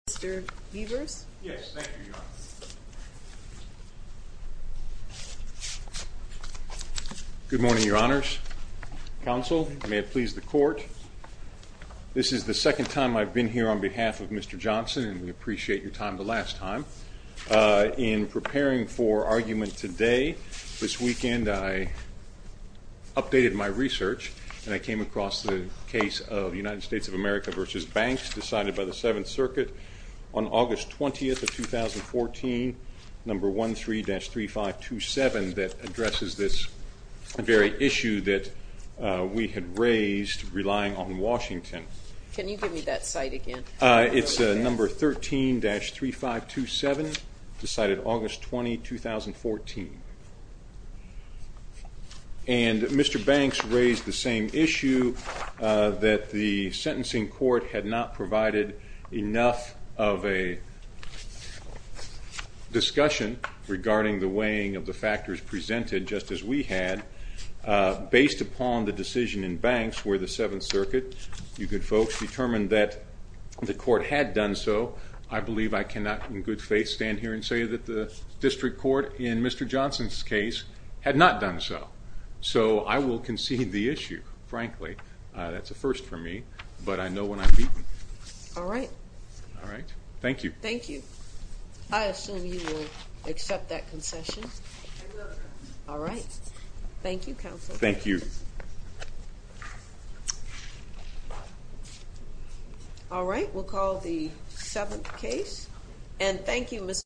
Good morning, Your Honors. Counsel, may it please the court. This is the second time I've been here on behalf of Mr. Johnson, and we appreciate your time the last time. In preparing for argument today, this weekend, I updated my research and I came across the United States of America v. Banks decided by the Seventh Circuit on August 20th of 2014, number 13-3527, that addresses this very issue that we had raised relying on Washington. Can you give me that site again? It's number 13-3527, decided August 20, 2014. And Mr. Johnson's case had not done so. So I will concede the issue, frankly. That's a first for me, but I know when I'm beaten. All right. All right. Thank you. Thank you. I assume you will accept that concession. All right. Thank you, Counsel. Thank you. All right. We'll call the seventh case. And thank you, Mr.